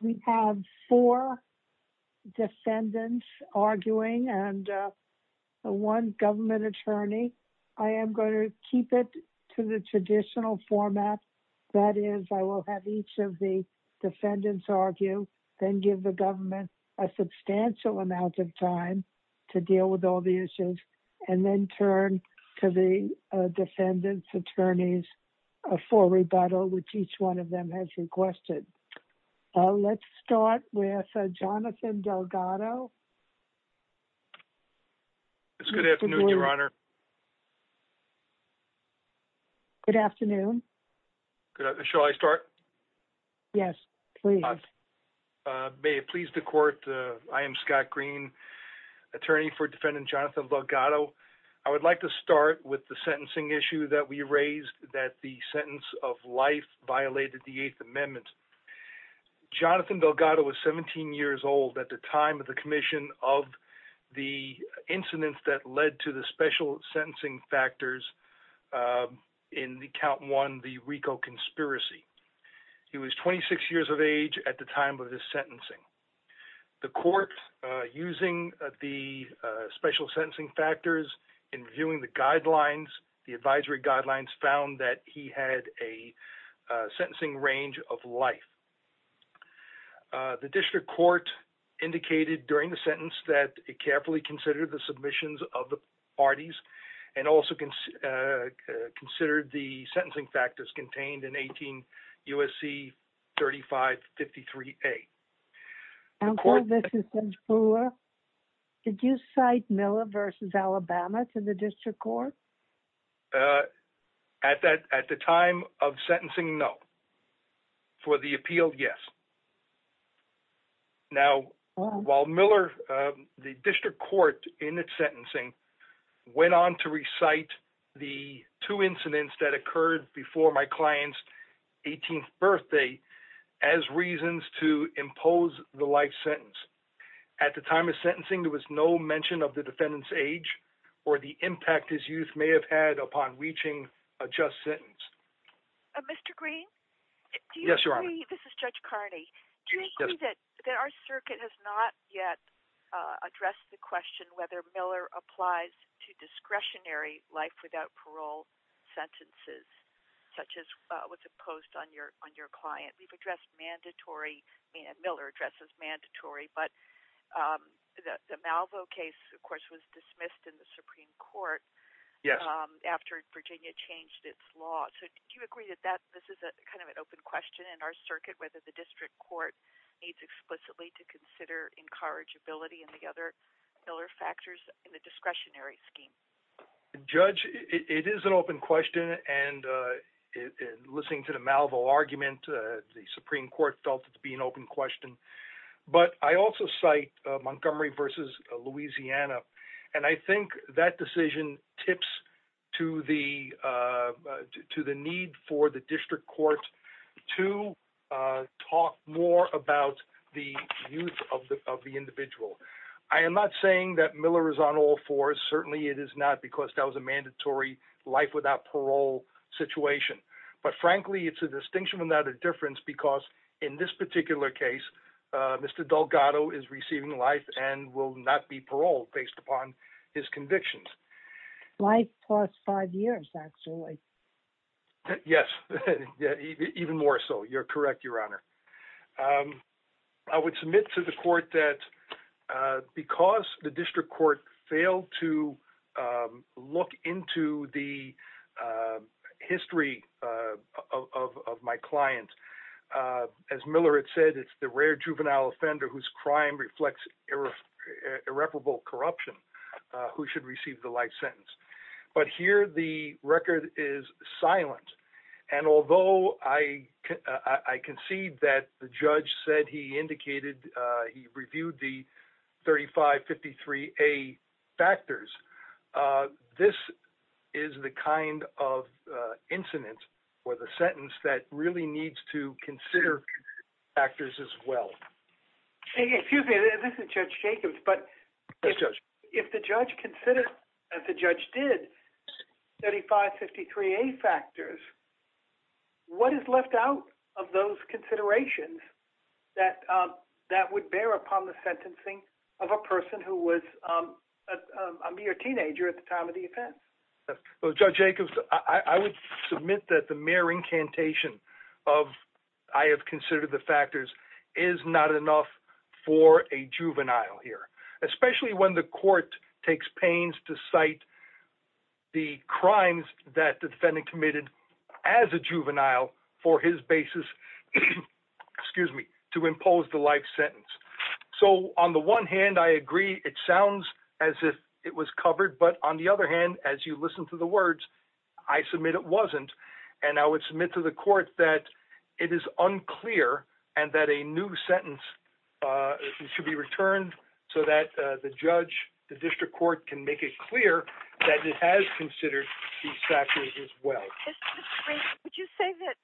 We have four defendants arguing and one government attorney. I am going to keep it to the traditional format. That is, I will have each of the defendants argue, then give the government a substantial amount of time to deal with all the issues, and then turn to the defendants' attorneys for rebuttal, which each one of them has requested. Let's start with Jonathan Delgado. It's good afternoon, Your Honor. Good afternoon. Shall I start? Yes, please. May it please the Court, I am Scott Green, attorney for defendant Jonathan Delgado. I would like to start with the sentencing issue that we raised, that the sentence of life violated the Eighth Amendment. Jonathan Delgado was 17 years old at the time of the commission of the incidents that led to the special sentencing factors in Count 1, the RICO conspiracy. He was 26 years of age at the time of his sentencing. The court, using the special sentencing factors and viewing the guidelines, the advisory guidelines, found that he had a sentencing range of life. The district court indicated during the sentence that it carefully considered the submissions of the parties and also considered the sentencing factors contained in 18 U.S.C. 3553A. Uncle, this is Ms. Brewer. Did you cite Miller v. Alabama to the district court? At the time of sentencing, no. For the appeal, yes. Now, while Miller, the district court in its sentencing went on to recite the two incidents that occurred before my client's 18th birthday as reasons to impose the life sentence. At the time of sentencing, there was no mention of the defendant's age or the impact his youth may have had upon reaching a just sentence. Mr. Green? Yes, Your Honor. This is Judge Carney. Do you agree that our circuit has not yet addressed the question whether Miller applies to discretionary life without parole sentences such as what's imposed on your client? We've addressed mandatory, and Miller addresses mandatory, but the Malvo case, of course, was dismissed in the Supreme Court after Virginia changed its law. So do you agree that this is kind of an open question in our circuit whether the district court needs explicitly to consider incorrigibility and the other Miller factors in the discretionary scheme? Judge, it is an open question, and listening to the Malvo argument, the Supreme Court felt it to be an open question. But I also cite Montgomery v. Louisiana, and I think that decision tips to the need for the district court to talk more about the youth of the individual. I am not saying that Miller is on all fours. Certainly, it is not because that was a mandatory life without parole situation. But frankly, it's a distinction without a difference because in this particular case, Mr. Delgado is receiving life and will not be paroled based upon his convictions. Life plus five years, actually. Yes, even more so. You're correct, Your Honor. I would submit to the court that because the district court failed to look into the history of my client, as Miller had said, it's the rare juvenile offender whose crime reflects irreparable corruption who should receive the life sentence. But here, the record is silent. And although I concede that the judge said he reviewed the 3553A factors, this is the kind of incident or the sentence that really needs to consider factors as well. Excuse me. This is Judge Jacobs. Yes, Judge. If the judge considered, as the judge did, 3553A factors, what is left out of those considerations that would bear upon the sentencing of a person who was a mere teenager at the time of the offense? Well, Judge Jacobs, I would submit that the mere incantation of, I have considered the factors, is not enough for a juvenile here, especially when the court takes pains to cite the crimes that the defendant committed as a juvenile for his basis, excuse me, to impose the life sentence. So on the one hand, I agree it sounds as if it was covered. But on the other hand, as you listen to the words, I submit it wasn't. And I would submit to the court that it is unclear and that a new sentence should be returned so that the judge, the district court, can make it clear that it has considered these factors as well. Would you say that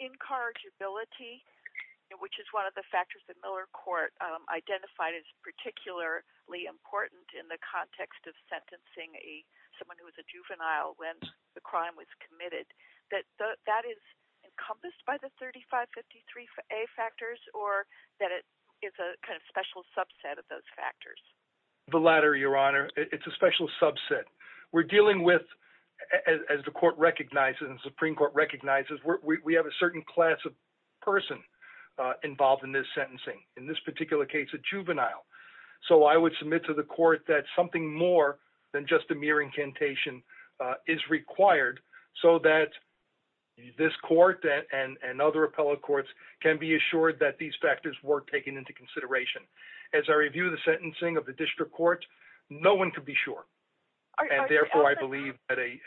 incorrigibility, which is one of the factors that Miller Court identified as particularly important in the context of sentencing someone who was a juvenile when the crime was committed, that that is encompassed by the 3553A factors or that it is a kind of special subset of those factors? The latter, Your Honor. It's a special subset. We're dealing with, as the court recognizes and the Supreme Court recognizes, we have a certain class of person involved in this sentencing. In this particular case, a juvenile. So I would submit to the court that something more than just a mere incantation is required so that this court and other appellate courts can be assured that these factors were taken into consideration. As I review the sentencing of the district court, no one could be sure. And therefore, I believe that a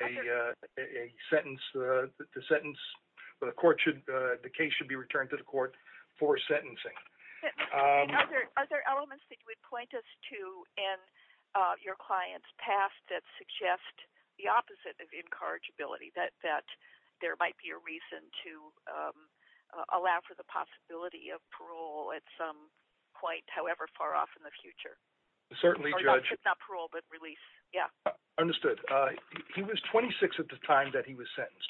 sentence, the court should, the case should be returned to the court for sentencing. Are there elements that you would point us to in your client's past that suggest the opposite of incorrigibility, that there might be a reason to allow for the possibility of parole at some point, however far off in the future? Certainly, Judge. Not parole, but release. Yeah. Understood. He was 26 at the time that he was sentenced.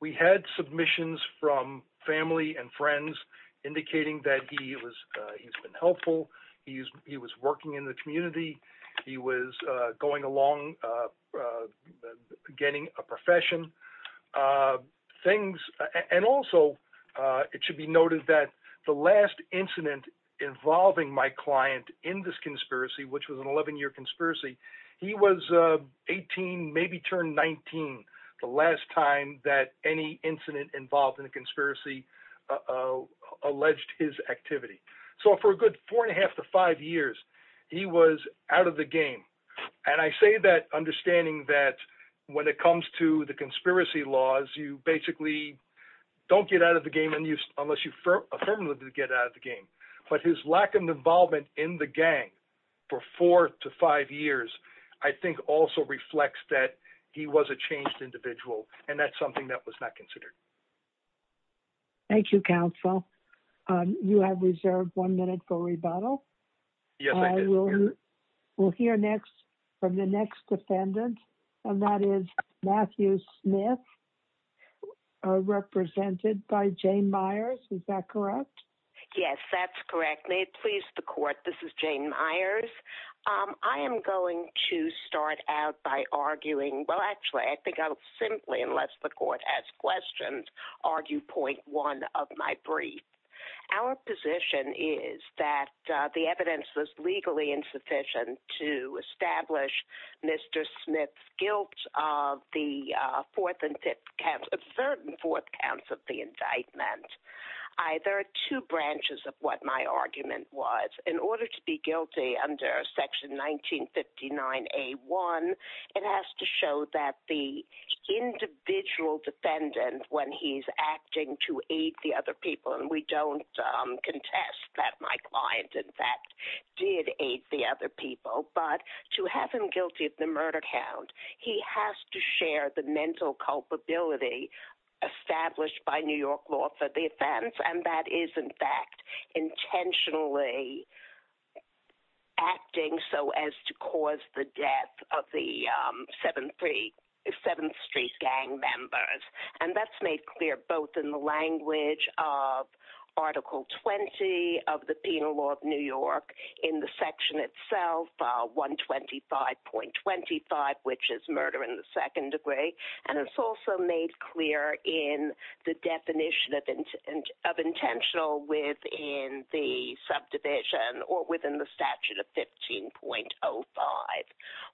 We had submissions from family and friends indicating that he was, he's been helpful. He was working in the community. He was going along, getting a profession. Things, and also it should be noted that the last incident involving my client in this conspiracy, which was an 11-year conspiracy, he was 18, maybe turned 19, the last time that any incident involved in a conspiracy alleged his activity. So for a good four and a half to five years, he was out of the game. And I say that understanding that when it comes to the conspiracy laws, you basically don't get out of the game unless you affirmatively get out of the game. But his lack of involvement in the gang for four to five years, I think also reflects that he was a changed individual. And that's something that was not considered. Thank you, counsel. You have reserved one minute for rebuttal. We'll hear next from the next defendant. And that is Matthew Smith, represented by Jane Myers. Is that correct? Yes, that's correct. May it please the court. This is Jane Myers. I am going to start out by arguing, well, actually, I think I'll simply, unless the court has questions, argue point one of my brief. Our position is that the evidence was legally insufficient to establish Mr. Smith's guilt of the third and fourth counts of the indictment. Either two branches of what my argument was. In order to be guilty under Section 1959A1, it has to show that the individual defendant, when he's acting to aid the other people, and we don't contest that my client in fact did aid the other people, but to have him guilty of the murder count, he has to share the mental culpability established by New York law for the offense. And that is, in fact, intentionally acting so as to cause the death of the 7th Street gang members. And that's made clear both in the language of Article 20 of the Penal Law of New York in the section itself, 125.25, which is murder in the second degree. And it's also made clear in the definition of intentional within the subdivision or within the statute of 15.05.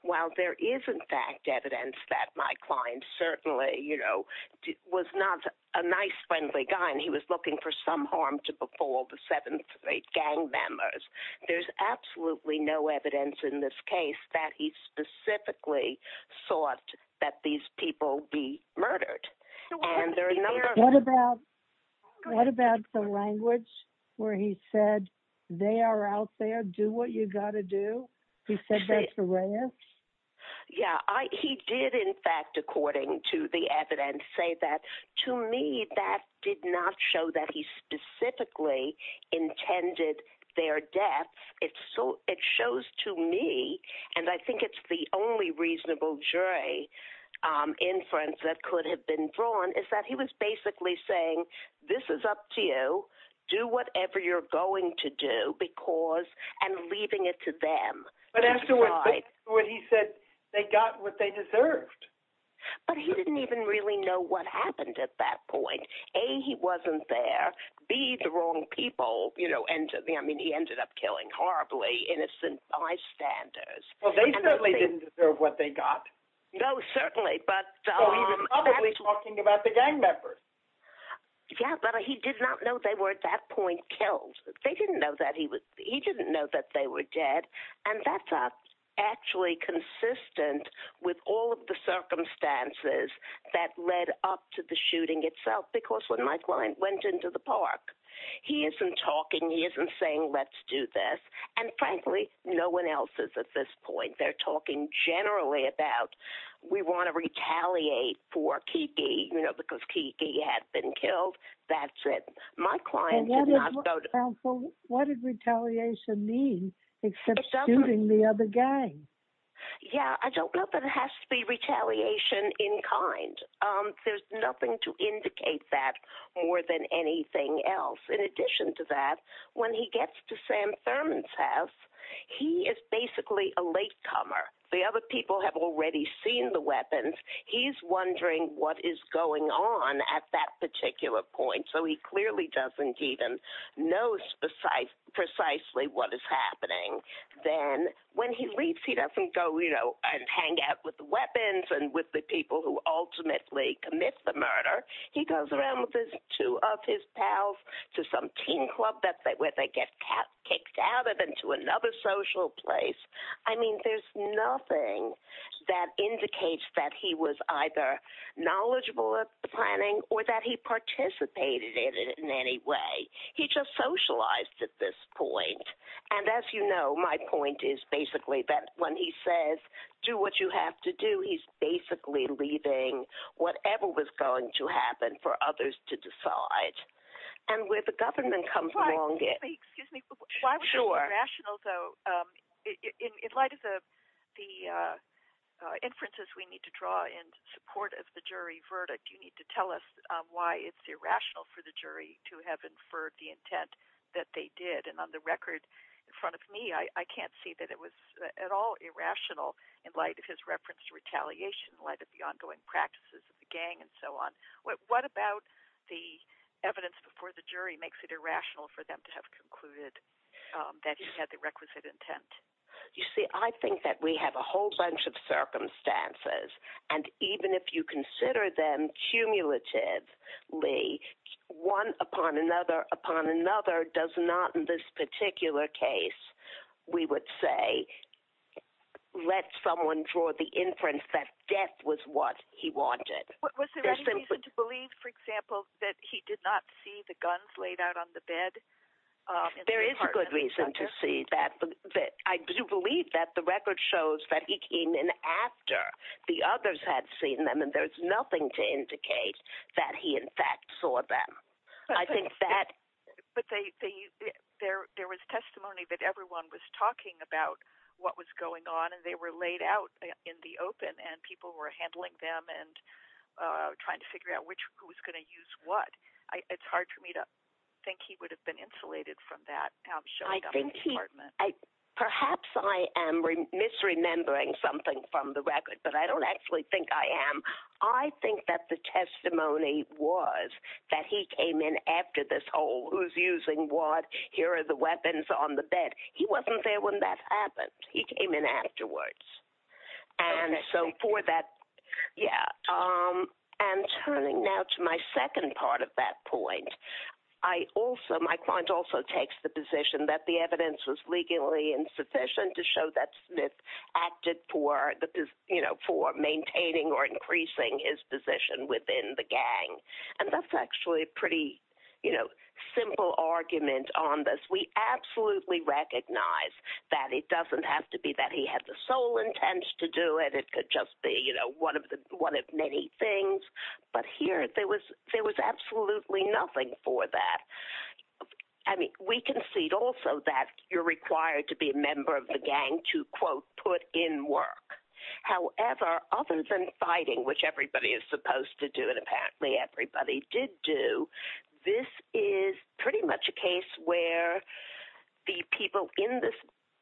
While there is, in fact, evidence that my client certainly was not a nice, friendly guy and he was looking for some harm to befall the 7th Street gang members, there's absolutely no evidence in this case that he specifically thought that these people be murdered. And there are no- What about the language where he said, they are out there, do what you gotta do? He said that to Reyes? Yeah, he did, in fact, according to the evidence, say that. To me, that did not show that he specifically intended their death. It shows to me, and I think it's the only reasonable jury inference that could have been drawn, is that he was basically saying, this is up to you, do whatever you're going to do, and leaving it to them. But after what he said, they got what they deserved. But he didn't even really know what happened at that point. A, he wasn't there. B, the wrong people. I mean, he ended up killing horribly innocent bystanders. Well, they certainly didn't deserve what they got. No, certainly, but- So he was probably talking about the gang members. Yeah, but he did not know they were, at that point, killed. They didn't know that he was- he didn't know that they were dead. And that's actually consistent with all of the circumstances that led up to the shooting itself, because when my client went into the park, he isn't talking, he isn't saying, let's do this. And frankly, no one else is at this point. They're talking generally about, we want to retaliate for Kiki, you know, because Kiki had been killed. That's it. My client did not go to- And what did retaliation mean, except shooting the other gang? Yeah, I don't know, but it has to be retaliation in kind. There's nothing to indicate that more than anything else. In addition to that, when he gets to Sam Thurman's house, he is basically a latecomer. The other people have already seen the weapons. He's wondering what is going on at that particular point. So he clearly doesn't even know precisely what is happening. Then when he leaves, he doesn't go, you know, and hang out with the weapons and with the commit the murder. He goes around with two of his pals to some teen club where they get kicked out of and to another social place. I mean, there's nothing that indicates that he was either knowledgeable at the planning or that he participated in it in any way. He just socialized at this point. And as you know, my point is basically that when he says, do what you have to do, he's basically leaving whatever was going to happen for others to decide. And where the government comes along, it makes me sure rational, though, in light of the inferences we need to draw in support of the jury verdict. You need to tell us why it's irrational for the jury to have inferred the intent that they did. And on the record in front of me, I can't see that it was at all irrational in light of his reference to retaliation, in light of the ongoing practices of the gang and so on. What about the evidence before the jury makes it irrational for them to have concluded that he had the requisite intent? You see, I think that we have a whole bunch of circumstances. And even if you consider them cumulatively, one upon another upon another does not in this particular case, we would say, let someone draw the inference that death was what he wanted. Was there any reason to believe, for example, that he did not see the guns laid out on the bed? There is a good reason to see that. I do believe that the record shows that he came in after the others had seen them. And there's nothing to indicate that he, in fact, saw them. I think that there was testimony that everyone was talking about what was going on and they were laid out in the open and people were handling them and trying to figure out who was going to use what. It's hard for me to think he would have been insulated from that. Perhaps I am misremembering something from the record, but I don't actually think I am. I think that the testimony was that he came in after this whole, who's using what? Here are the weapons on the bed. He wasn't there when that happened. He came in afterwards. And so for that, yeah. And turning now to my second part of that point, I also, my client also takes the position that the evidence was legally insufficient to show that Smith acted for, you know, for maintaining or increasing his position within the gang. And that's actually a pretty, you know, simple argument on this. We absolutely recognize that it doesn't have to be that he had the sole intent to do it. It could just be, you know, one of many things. But here, there was absolutely nothing for that. I mean, we concede also that you're required to be a member of the gang to, quote, put in work. However, other than fighting, which everybody is supposed to do, and apparently everybody did do, this is pretty much a case where the people in this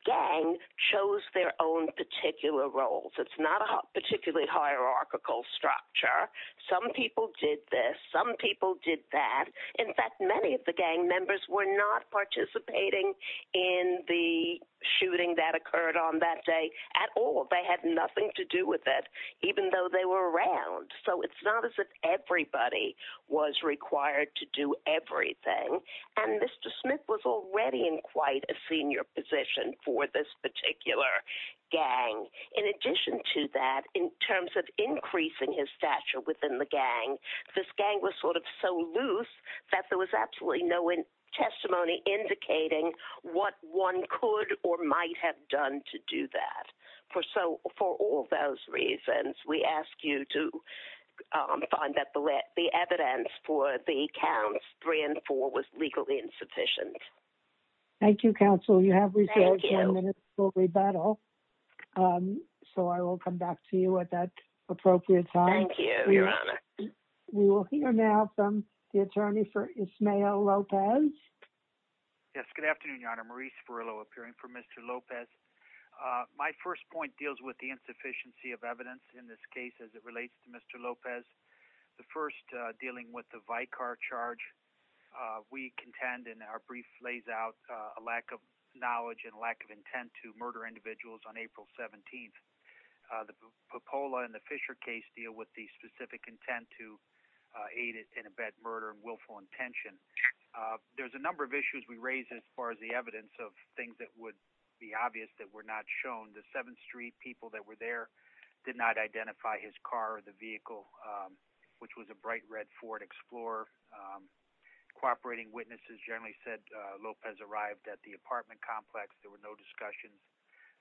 gang chose their own particular roles. It's not a particularly hierarchical structure. Some people did this. Some people did that. In fact, many of the gang members were not participating in the shooting that occurred on that day at all. They had nothing to do with it, even though they were around. So it's not as if everybody was required to do everything. And Mr. Smith was already in quite a senior position for this particular gang. In addition to that, in terms of increasing his stature within the gang, this gang was sort of so loose that there was absolutely no testimony indicating what one could or might have done to do that. For all of those reasons, we ask you to find that the evidence for the counts three and four was legally insufficient. Thank you, counsel. You have reserved 10 minutes for rebuttal. So I will come back to you at that appropriate time. Thank you, Your Honor. We will hear now from the attorney for Ismael Lopez. Yes. Good afternoon, Your Honor. Maurice Furillo, appearing for Mr. Lopez. My first point deals with the insufficiency of evidence in this case as it relates to Mr. Lopez. The first dealing with the Vicar charge, we contend in our brief lays out a lack of knowledge and lack of intent to murder individuals on April 17th. The Popola and the Fisher case deal with the specific intent to aid and abet murder and willful intention. There's a number of issues we raise as far as the evidence of things that would be obvious that were not shown. The 7th Street people that were there did not identify his car or the vehicle, which was a bright red Ford Explorer. Cooperating witnesses generally said Lopez arrived at the apartment complex. There were no discussions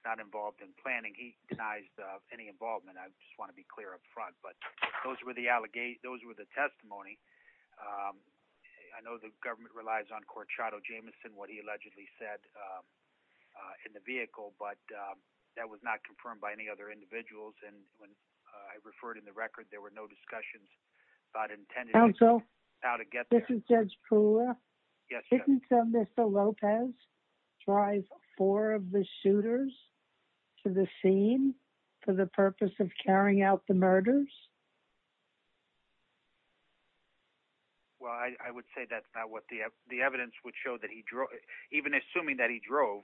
not involved in planning. He denies any involvement. I just want to be clear up front. But those were the allegations. Those were the testimony. I know the government relies on Corchado Jameson, what he allegedly said in the vehicle, but that was not confirmed by any other individuals. And when I referred in the record, there were no discussions about intended. Also, how to get this is just cool. Yes, Mr. Lopez drive four of the shooters to the scene for the purpose of carrying out the murders. Well, I would say that's not what the the evidence would show that he even assuming that he drove,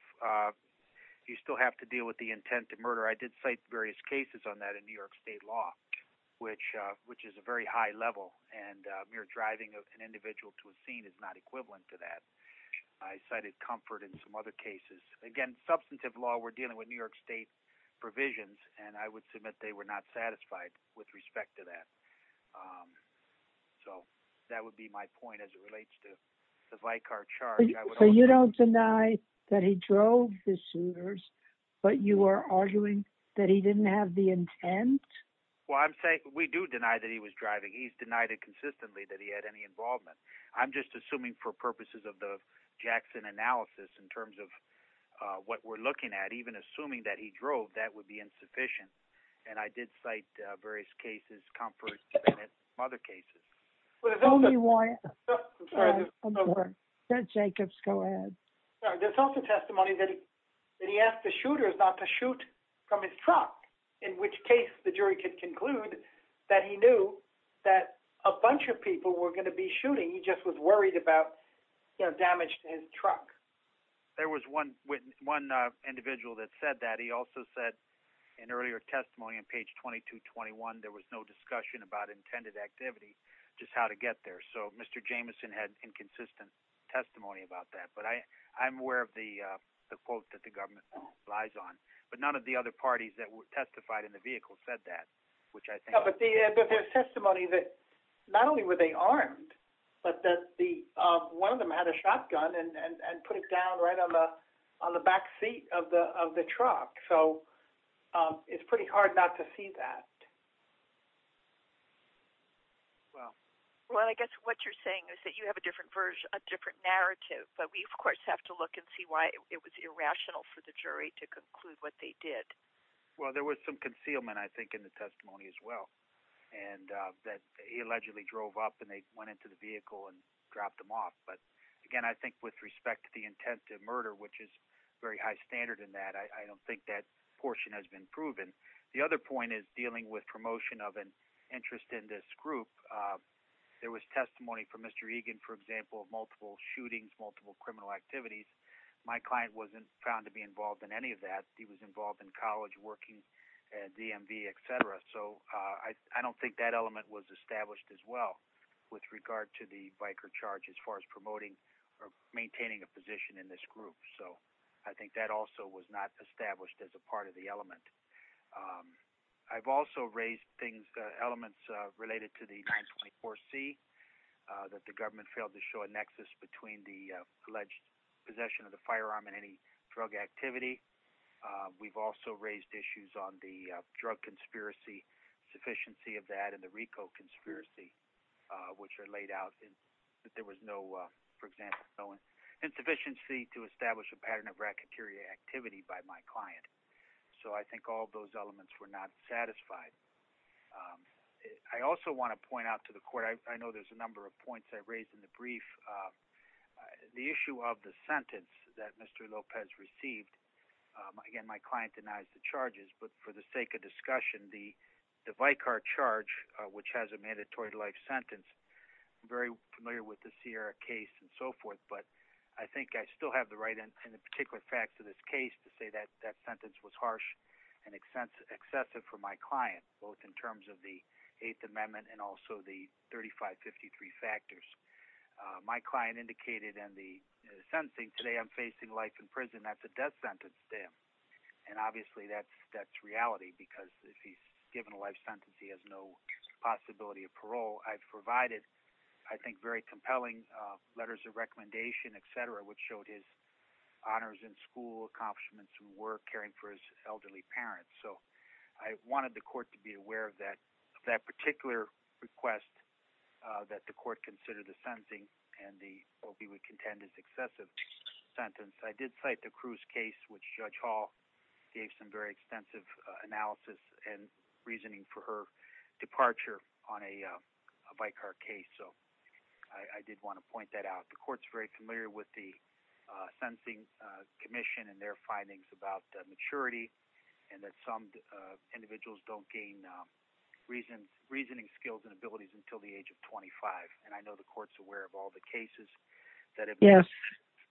you still have to deal with the intent to murder. I did cite various cases on that in New York state law, which which is a very high level. And you're driving an individual to a scene is not equivalent to that. I cited comfort in some other cases. Again, substantive law. We're dealing with New York state provisions, and I would submit they were not satisfied with respect to that. So that would be my point as it relates to the Vicar charge. So you don't deny that he drove the shooters, but you are arguing that he didn't have the intent. Well, I'm saying we do deny that he was driving. He's denied it consistently that he had any involvement. I'm just assuming for purposes of the Jackson analysis in terms of what we're looking at, even assuming that he drove, that would be insufficient. And I did cite various cases, comforts, other cases. There's only one that Jacobs go ahead. There's also testimony that that he asked the shooters not to shoot from his truck, in which case the jury could conclude that he knew that a bunch of people were going to be shooting. He just was worried about, you know, damaged his truck. There was one one individual that said that he also said in earlier testimony on page 2221, there was no discussion about intended activity, just how to get there. So Mr. Jameson had inconsistent testimony about that. But I I'm aware of the quote that the government lies on. But none of the other parties that testified in the vehicle said that, which I think testimony that not only were they armed, but that the one of them had a shotgun and put it down right on the on the back seat of the of the truck. So it's pretty hard not to see that. Well, well, I guess what you're saying is that you have a different version, a different But we, of course, have to look and see why it was irrational for the jury to conclude what they did. Well, there was some concealment, I think, in the testimony as well, and that he allegedly drove up and they went into the vehicle and dropped them off. But again, I think with respect to the intent of murder, which is very high standard in that, I don't think that portion has been proven. The other point is dealing with promotion of an interest in this group. There was testimony from Mr. Egan, for example, of multiple shootings, multiple criminal activities. My client wasn't found to be involved in any of that. He was involved in college working at DMV, etc. So I don't think that element was established as well with regard to the biker charge as far as promoting or maintaining a position in this group. So I think that also was not established as a part of the element. I've also raised things, elements related to the 924C, that the government failed to show a nexus between the alleged possession of the firearm and any drug activity. We've also raised issues on the drug conspiracy, sufficiency of that and the RICO conspiracy, which are laid out. There was no, for example, insufficiency to establish a pattern of racketeering activity by my client. So I think all those elements were not satisfied. I also want to point out to the court, I know there's a number of points I've raised in the brief. The issue of the sentence that Mr. Lopez received, again, my client denies the charges, but for sake of discussion, the biker charge, which has a mandatory life sentence, I'm very familiar with the Sierra case and so forth, but I think I still have the right and the particular facts of this case to say that that sentence was harsh and excessive for my client, both in terms of the Eighth Amendment and also the 3553 factors. My client indicated in the sentencing, today I'm facing life in prison at the death sentence and obviously that's reality because if he's given a life sentence, he has no possibility of parole. I've provided, I think, very compelling letters of recommendation, et cetera, which showed his honors in school, accomplishments in work, caring for his elderly parents. So I wanted the court to be aware of that particular request that the court considered the sentencing and the what we would contend is excessive sentence. I did cite the Cruz case, which Judge Hall gave some very extensive analysis and reasoning for her departure on a biker case. So I did want to point that out. The court's very familiar with the sentencing commission and their findings about maturity and that some individuals don't gain reasoning skills and abilities until the age of 25. And I know the court's aware of all the cases that have been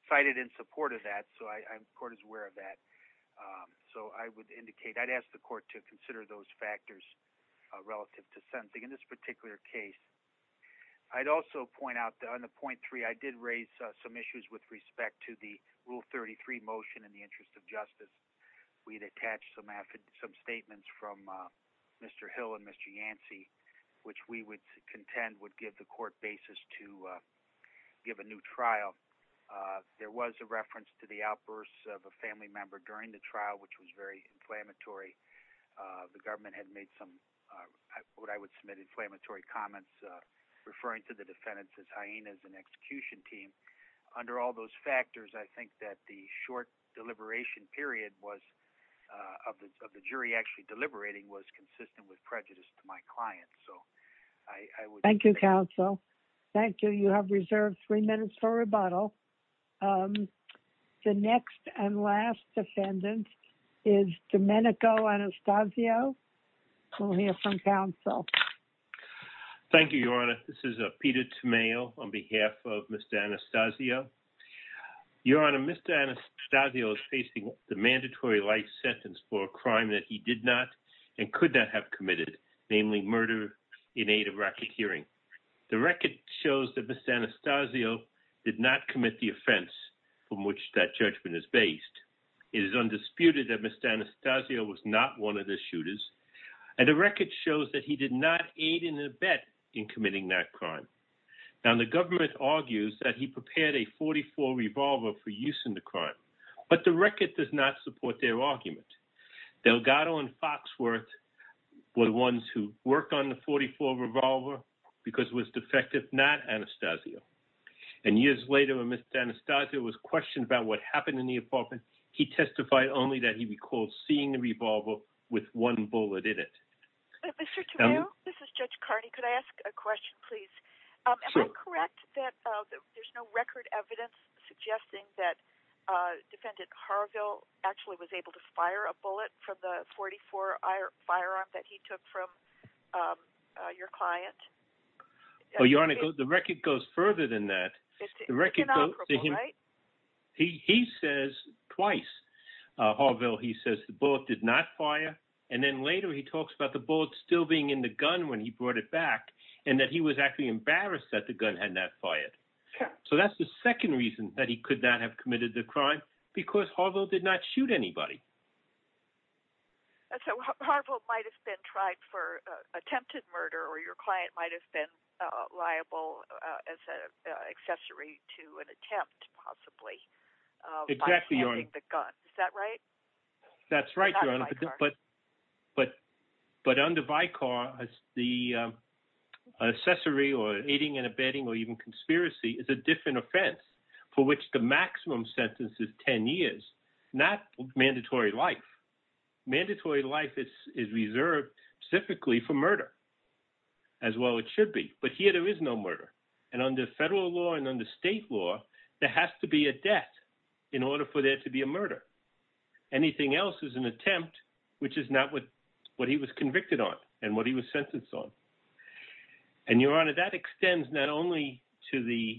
cited in support of that. So the court is aware of that. So I would indicate, I'd ask the court to consider those factors relative to sentencing in this particular case. I'd also point out that on the point three, I did raise some issues with respect to the Rule 33 motion in the interest of justice. We'd attached some statements from Mr. Hill and Mr. Yancey, which we would contend would give the court basis to give a new trial. There was a reference to the outbursts of a family member during the trial, which was very inflammatory. The government had made some what I would submit inflammatory comments referring to the defendants as hyenas and execution team. Under all those factors, I think that the short deliberation period was of the jury actually deliberating was consistent with prejudice to my client. So I thank you, counsel. Thank you. You have reserved three minutes for rebuttal. The next and last defendant is Domenico Anastasio. We'll hear from counsel. Thank you, Your Honor. This is a Peter Tamayo on behalf of Mr. Anastasio. Your Honor, Mr. Anastasio is facing the mandatory life sentence for a crime that he did not and could not have committed, namely murder in aid of racketeering. The record shows that Mr. Anastasio did not commit the offense from which that judgment is based. It is undisputed that Mr. Anastasio was not one of the shooters, and the record shows that he did not aid in the bet in committing that crime. Now, the government argues that he prepared a .44 revolver for use in the crime, but the record does not support their argument. Delgado and Foxworth were the ones who worked on the .44 revolver because it was defective, not Anastasio. And years later, when Mr. Anastasio was questioned about what happened in the apartment, he testified only that he recalled seeing the revolver with one bullet in it. Mr. Tamayo, this is Judge Carney. Could I ask a question, please? Am I correct that there's no record evidence suggesting that Defendant Harville actually was able to fire a bullet from the .44 firearm that he took from your client? Well, Your Honor, the record goes further than that. It's inoperable, right? He says twice. Harville, he says the bullet did not fire, and then later he talks about the bullet still being in the gun when he brought it back, and that he was actually embarrassed that the gun had not fired. So that's the second reason that he could not have committed the crime, because Harville did not shoot anybody. And so Harville might have been tried for attempted murder, or your client might have been liable as an accessory to an attempt, possibly, by handling the gun. Is that right? That's right, Your Honor, but under Vicar, the accessory or aiding and abetting or even not mandatory life. Mandatory life is reserved specifically for murder, as well it should be. But here there is no murder. And under federal law and under state law, there has to be a death in order for there to be a murder. Anything else is an attempt, which is not what he was convicted on and what he was sentenced on. And, Your Honor, that extends not only to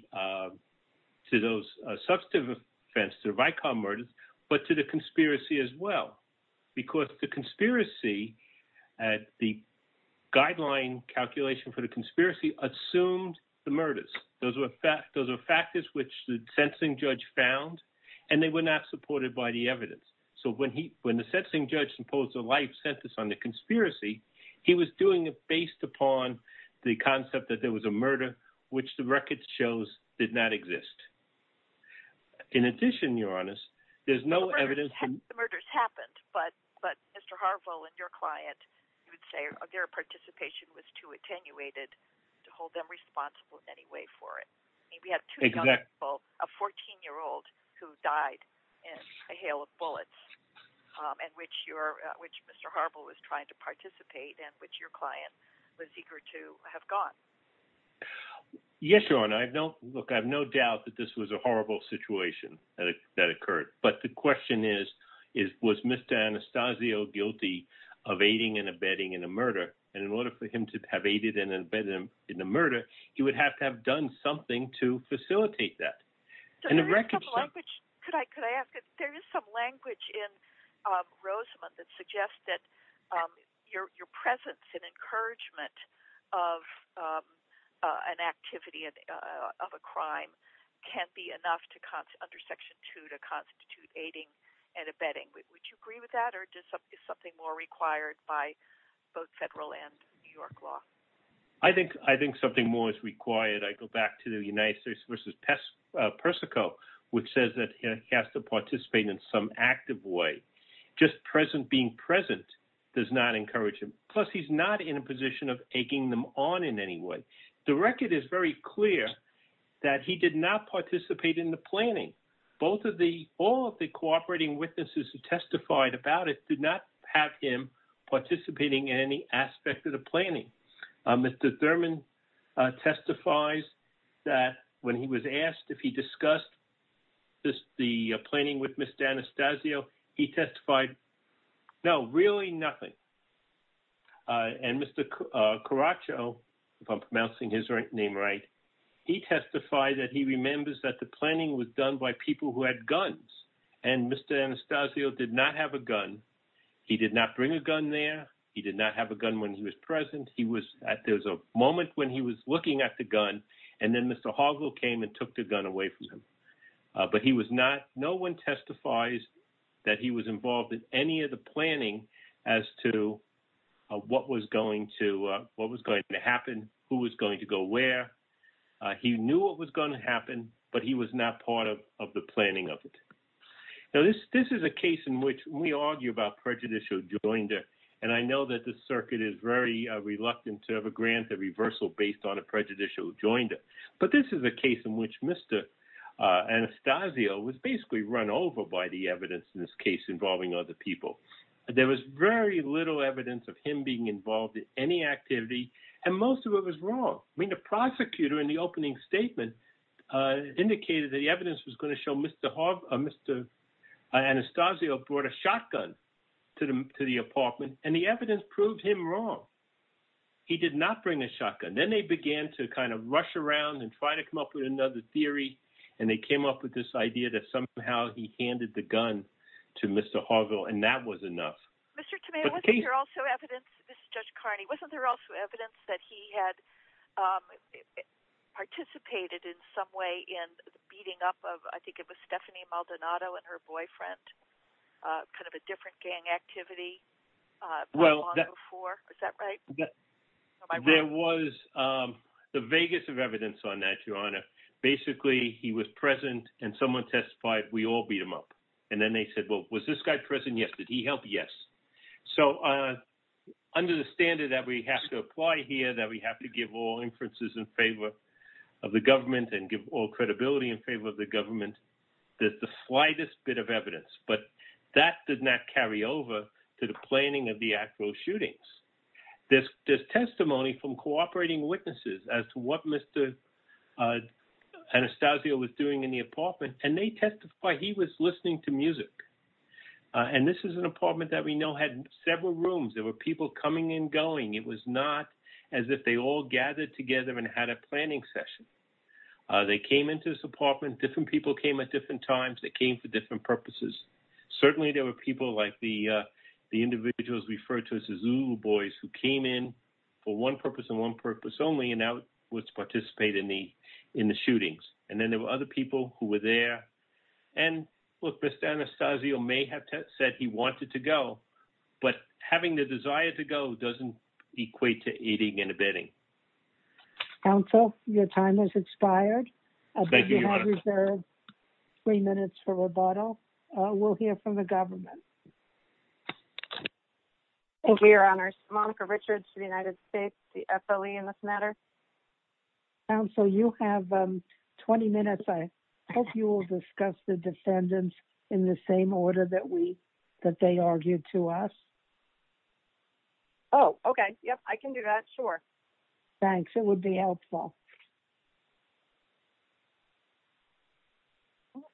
those substantive offenses, the Vicar murders, but to the conspiracy as well, because the conspiracy, the guideline calculation for the conspiracy, assumed the murders. Those were factors which the sentencing judge found, and they were not supported by the evidence. So when the sentencing judge imposed a life sentence on the conspiracy, he was doing it based upon the concept that there was a murder, which the record shows did not exist. In addition, Your Honor, there's no evidence. The murders happened, but Mr. Harville and your client, you would say their participation was too attenuated to hold them responsible in any way for it. I mean, we had two young people, a 14-year-old who died in a hail of bullets, in which Mr. Harville was trying to participate and which your client was eager to have gone. Yes, Your Honor. I have no doubt that this was a horrible situation that occurred. But the question is, was Mr. Anastasio guilty of aiding and abetting in a murder? And in order for him to have aided and abetted in a murder, he would have to have done something to facilitate that. There is some language in Rosamond that suggests that your presence and encouragement of an activity of a crime can't be enough under Section 2 to constitute aiding and abetting. Would you agree with that? Or is something more required by both federal and New York law? I think something more is required. I go back to the United States v. Persico, which says that he has to participate in some active way. Just being present does not encourage him. Plus, he's not in a position of egging them on in any way. The record is very clear that he did not participate in the planning. All of the cooperating witnesses who testified about it did not have him participating in any aspect of the planning. Mr. Thurman testifies that when he was asked if he discussed the planning with Mr. Anastasio, he testified, no, really nothing. And Mr. Caraccio, if I'm pronouncing his name right, he testified that he remembers that the planning was done by people who had guns. And Mr. Anastasio did not have a gun. He did not bring a gun there. He did not have a gun when he was present. There was a moment when he was looking at the gun, and then Mr. Hargill came and took the gun away from him. But he was not—no one testifies that he was involved in any of the planning as to what was going to happen, who was going to go where. He knew what was going to happen, but he was not part of the planning of it. Now, this is a case in which we argue about prejudicial joinder, and I know that the grounds of reversal based on a prejudicial joinder. But this is a case in which Mr. Anastasio was basically run over by the evidence in this case involving other people. There was very little evidence of him being involved in any activity, and most of it was wrong. The prosecutor in the opening statement indicated that the evidence was going to show Mr. Anastasio brought a shotgun to the apartment, and the evidence proved him wrong. He did not bring a shotgun. Then they began to kind of rush around and try to come up with another theory, and they came up with this idea that somehow he handed the gun to Mr. Hargill, and that was enough. Mr. Tomei, wasn't there also evidence—this is Judge Carney—wasn't there also evidence that he had participated in some way in the beating up of, I think it was Stephanie Maldonado and her boyfriend, kind of a different gang activity? Well, that— There was the vaguest of evidence on that, Your Honor. Basically, he was present, and someone testified, we all beat him up. And then they said, well, was this guy present? Yes. Did he help? Yes. So under the standard that we have to apply here, that we have to give all inferences in favor of the government and give all credibility in favor of the government, there's the slightest bit of evidence. But that did not carry over to the planning of the actual shootings. There's testimony from cooperating witnesses as to what Mr. Anastasio was doing in the apartment, and they testified he was listening to music. And this is an apartment that we know had several rooms. There were people coming and going. It was not as if they all gathered together and had a planning session. They came into this apartment. Different people came at different times. They came for different purposes. Certainly, there were people like the individuals referred to as the Zulu boys who came in for one purpose and one purpose only, and now would participate in the shootings. And then there were other people who were there. And, look, Mr. Anastasio may have said he wanted to go, but having the desire to go doesn't equate to eating and abetting. Counsel, your time has expired. Thank you, Your Honor. I reserve three minutes for rebuttal. We'll hear from the government. Thank you, Your Honor. Monica Richards, United States, the FLE in this matter. Counsel, you have 20 minutes. I hope you will discuss the defendants in the same order that they argued to us. Oh, okay. Yep, I can do that. Sure. Thanks. It would be helpful.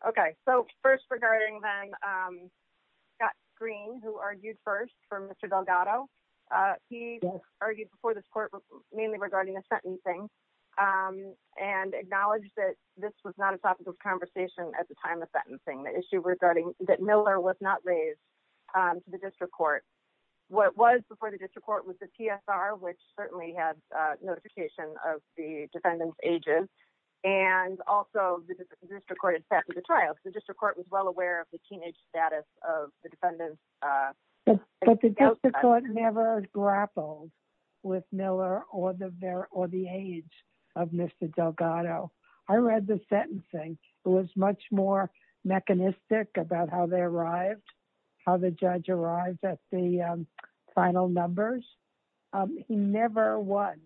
Okay. So, first, regarding Scott Green, who argued first for Mr. Delgado. He argued before this court mainly regarding the sentencing and acknowledged that this was not a topic of conversation at the time of sentencing, the issue regarding that Miller was not raised to the district court. What was before the district court was the TSR, which certainly had notification of the district court had set for the trial. The district court was well aware of the teenage status of the defendant. But the district court never grappled with Miller or the age of Mr. Delgado. I read the sentencing. It was much more mechanistic about how they arrived, how the judge arrived at the final numbers. He never was,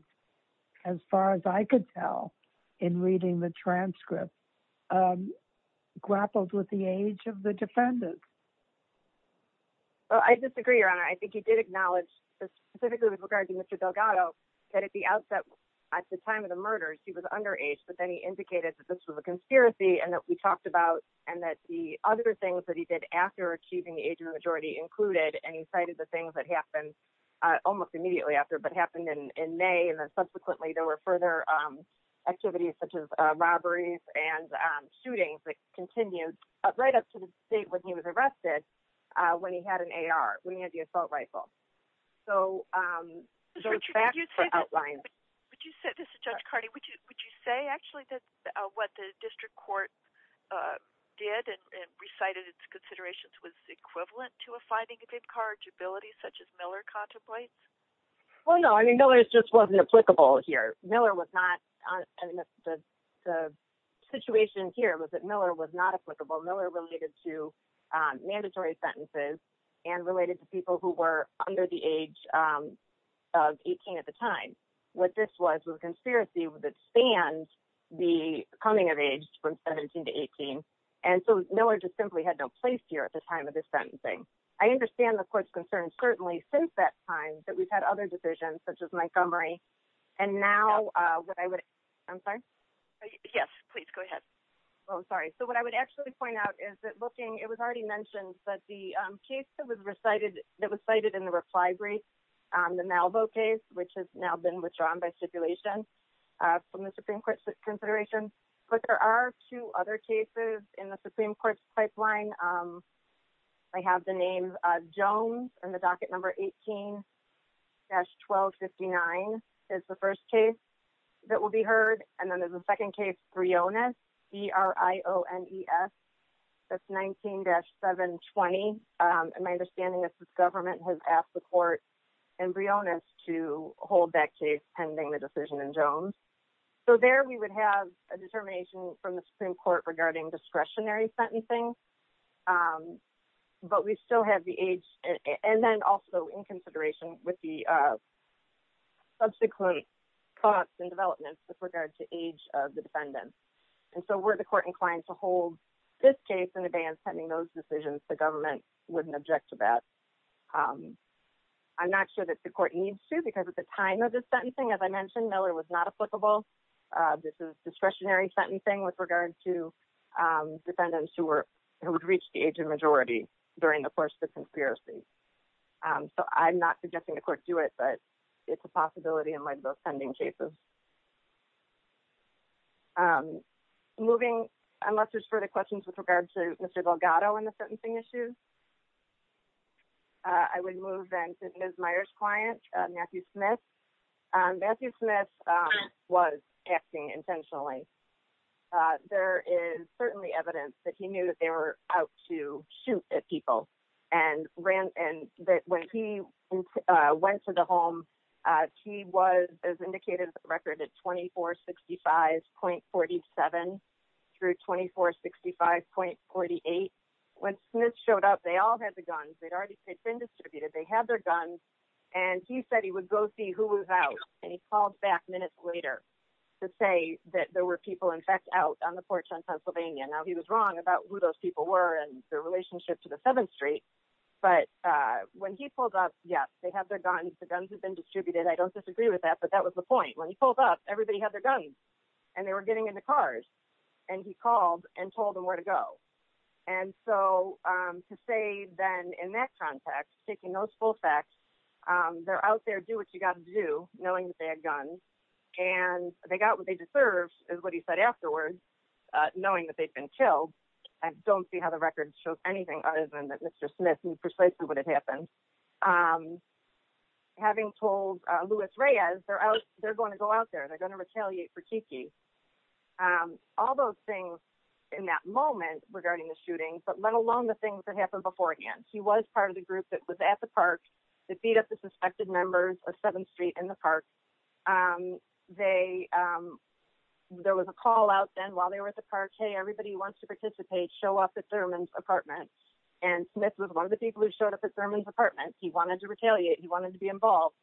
as far as I could tell in reading the transcript, grappled with the age of the defendant. Well, I disagree, Your Honor. I think he did acknowledge, specifically with regard to Mr. Delgado, that at the outset, at the time of the murders, he was underage, but then he indicated that this was a conspiracy and that we talked about and that the other things that he did after achieving the age and he cited the things that happened almost immediately after, but happened in May. And then subsequently, there were further activities, such as robberies and shootings that continued right up to the state when he was arrested, when he had an AR, when he had the assault rifle. So there are tracks for outlines. This is Judge Cardi. Would you say actually that what the district court did and recited its considerations was equivalent to a finding of incorrigibility, such as Miller contemplates? Well, no. I mean, Miller's just wasn't applicable here. Miller was not. The situation here was that Miller was not applicable. Miller related to mandatory sentences and related to people who were under the age of 18 at the time. What this was, was a conspiracy that spanned the coming of age from 17 to 18. And so Miller just simply had no place here at the time of this sentencing. I understand the court's concerns, certainly since that time that we've had other decisions, such as Montgomery. And now what I would, I'm sorry. Yes, please go ahead. Oh, sorry. So what I would actually point out is that looking, it was already mentioned that the case that was recited, that was cited in the reply brief, the Malvo case, which has now been withdrawn by stipulation from the Supreme Court's consideration. But there are two other cases in the Supreme Court's pipeline. They have the name Jones and the docket number 18-1259 is the first case that will be heard. And then there's a second case, Briones, B-R-I-O-N-E-S, that's 19-720. And my understanding is that the government has asked the court and Briones to hold that case pending the decision in Jones. So there we would have a determination from the Supreme Court regarding discretionary sentencing. But we still have the age and then also in consideration with the subsequent thoughts and developments with regard to age of the defendants. And so were the court inclined to hold this case in advance pending those decisions, the government wouldn't object to that. I'm not sure that the court needs to because at the time of this sentencing, as I mentioned, Miller was not applicable. This is discretionary sentencing with regard to defendants who would reach the age of majority during the course of the conspiracy. So I'm not suggesting the court do it, but it's a possibility in my defending cases. Moving, unless there's further questions with regard to Mr. Delgado and the sentencing issue, I would move then to Ms. Meyers' client, Matthew Smith. Matthew Smith was acting intentionally. There is certainly evidence that he knew that they were out to shoot at people and that when he went to the home, he was, as indicated in the record, at 2465.47 through 2465.48. When Smith showed up, they all had the guns. They'd already been distributed. They had their guns, and he said he would go see who was out, and he called back minutes later to say that there were people, in fact, out on the porch on Pennsylvania. Now, he was wrong about who those people were and their relationship to the 7th Street, but when he pulled up, yes, they had their guns. The guns had been distributed. I don't disagree with that, but that was the point. When he pulled up, everybody had their guns, and they were getting into cars, and he called and told them where to go. So to say then, in that context, taking those full facts, they're out there, do what you got to do, knowing that they had guns, and they got what they deserved is what he said afterwards, knowing that they'd been killed. I don't see how the record shows anything other than that Mr. Smith knew precisely what had happened. Having told Luis Reyes they're going to go out there, they're going to retaliate for Kiki. All those things in that moment regarding the shooting, but let alone the things that happened beforehand. He was part of the group that was at the park that beat up the suspected members of 7th Street and the park. There was a call out then while they were at the park, hey, everybody wants to participate, show up at Thurman's apartment, and Smith was one of the people who showed up at Thurman's He wanted to retaliate. He wanted to be involved.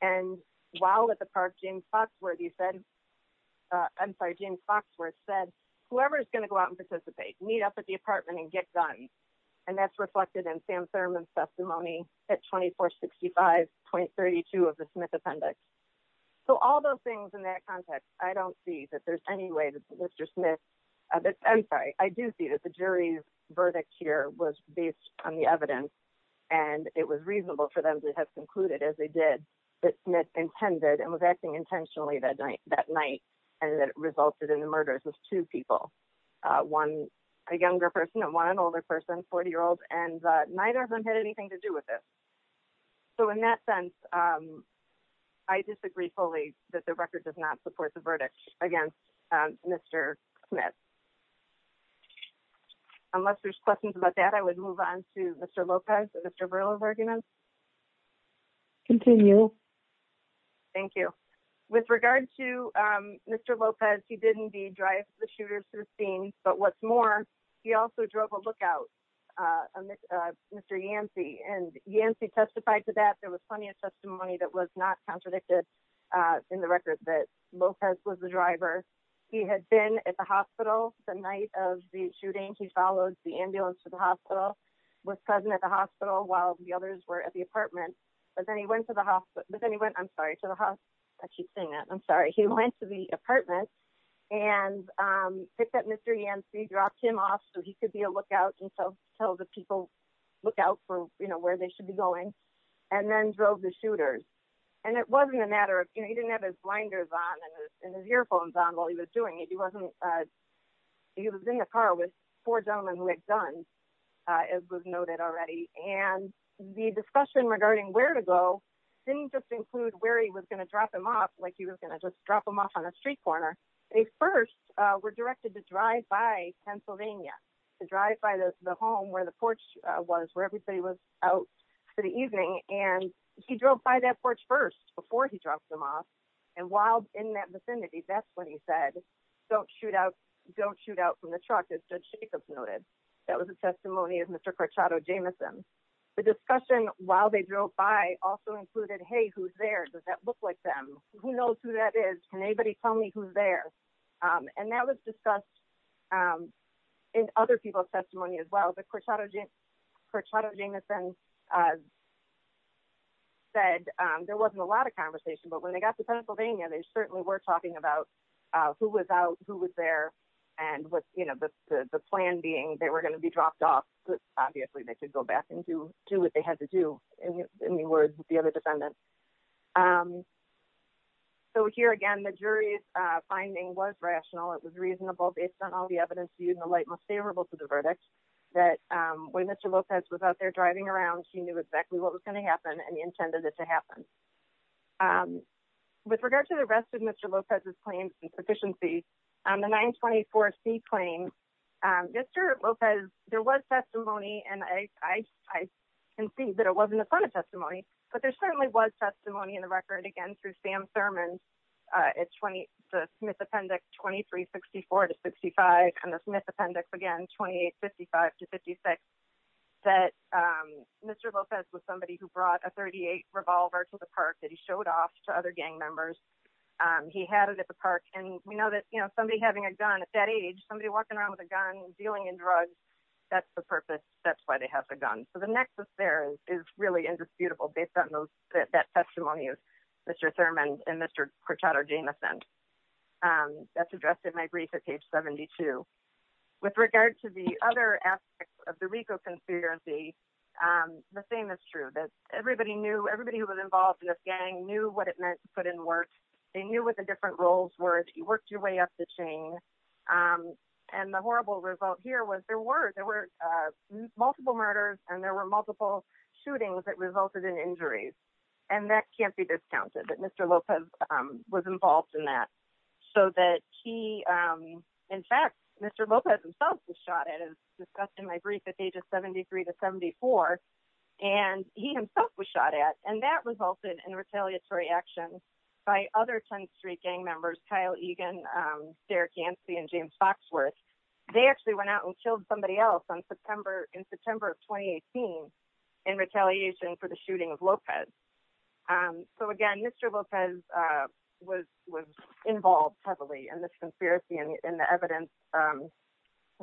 And while at the park, James Foxworth said, I'm sorry, James Foxworth said, whoever's going to go out and participate, meet up at the apartment and get guns. And that's reflected in Sam Thurman's testimony at 2465.32 of the Smith appendix. So all those things in that context, I don't see that there's any way that Mr. Smith, I'm sorry, I do see that the jury's verdict here was based on the evidence, and it was reasonable for them to have concluded, as they did, that Smith intended and was acting intentionally that night, and that resulted in the murders of two people, one, a younger person and one an older person, 40-year-old, and neither of them had anything to do with it. So in that sense, I disagree fully that the record does not support the verdict against Mr. Smith. Unless there's questions about that, I would move on to Mr. Lopez, Mr. Burl of arguments. Continue. Thank you. With regard to Mr. Lopez, he did indeed drive the shooters through the scene. But what's more, he also drove a lookout, Mr. Yancey, and Yancey testified to that. There was plenty of testimony that was not contradicted in the record that Lopez was the driver. He had been at the hospital the night of the shooting. He followed the ambulance to the hospital, was present at the hospital while the others were at the apartment, but then he went to the hospital—I'm sorry, to the—I keep saying that. I'm sorry. He went to the apartment and picked up Mr. Yancey, dropped him off so he could be a lookout and tell the people, look out for where they should be going, and then drove the shooters. And it wasn't a matter of—he didn't have his blinders on and his earphones on while he was doing it. He wasn't—he was in the car with four gentlemen who had guns, as was noted already. And the discussion regarding where to go didn't just include where he was going to drop him off, like he was going to just drop him off on a street corner. They first were directed to drive by Pennsylvania, to drive by the home where the porch was, where everybody was out for the evening. And he drove by that porch first before he dropped him off. And while in that vicinity, that's when he said, don't shoot out from the truck, as Judge Jacobs noted. That was a testimony of Mr. Corchado Jameson. The discussion while they drove by also included, hey, who's there? Does that look like them? Who knows who that is? Can anybody tell me who's there? And that was discussed in other people's testimony as well. But Corchado Jameson said there wasn't a lot of conversation. But when they got to Pennsylvania, they certainly were talking about who was out, who was there, and the plan being they were going to be dropped off. But obviously, they could go back and do what they had to do, in the words of the other defendant. So here again, the jury's finding was rational. It was reasonable based on all the evidence used in the light most favorable to the verdict that when Mr. Lopez was out there driving around, she knew exactly what was going to happen and intended it to happen. And with regard to the rest of Mr. Lopez's claims and proficiency, the 924C claim, Mr. Lopez, there was testimony, and I can see that it wasn't a ton of testimony, but there certainly was testimony in the record, again, through Sam Thurman, the Smith Appendix 2364 to 65, and the Smith Appendix, again, 2855 to 56, that Mr. Lopez was somebody who brought a .38 revolver to the park that he showed off to other gang members. He had it at the park. And we know that somebody having a gun at that age, somebody walking around with a gun, dealing in drugs, that's the purpose. That's why they have the gun. So the nexus there is really indisputable based on that testimony of Mr. Thurman and Mr. Cortado Jameson. That's addressed in my brief at page 72. With regard to the other aspects of the RICO conspiracy, the same is true, that everybody knew, everybody who was involved in this gang knew what it meant to put in work. They knew what the different roles were. If you worked your way up the chain, and the horrible result here was there were, there were multiple murders, and there were multiple shootings that resulted in injuries. And that can't be discounted, that Mr. Lopez was involved in that. So that he, in fact, Mr. Lopez himself was shot at, as discussed in my brief, at pages 73 to 74. And he himself was shot at. And that resulted in retaliatory action by other 10th Street gang members, Kyle Egan, Derek Yancey, and James Foxworth. They actually went out and killed somebody else in September of 2018 in retaliation for the shooting of Lopez. And so again, Mr. Lopez was involved heavily in this conspiracy, and the evidence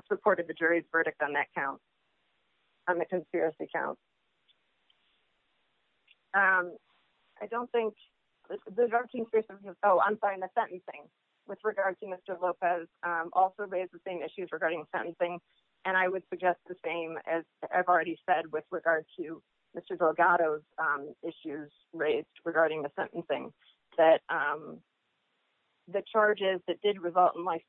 supported the jury's verdict on that count, on the conspiracy count. I don't think, oh, I'm sorry, on the sentencing. With regard to Mr. Lopez, also raised the same issues regarding sentencing. And I would suggest the same, as I've already said, with regard to Mr. Delgado's issues raised regarding the sentencing, that the charges that did result in life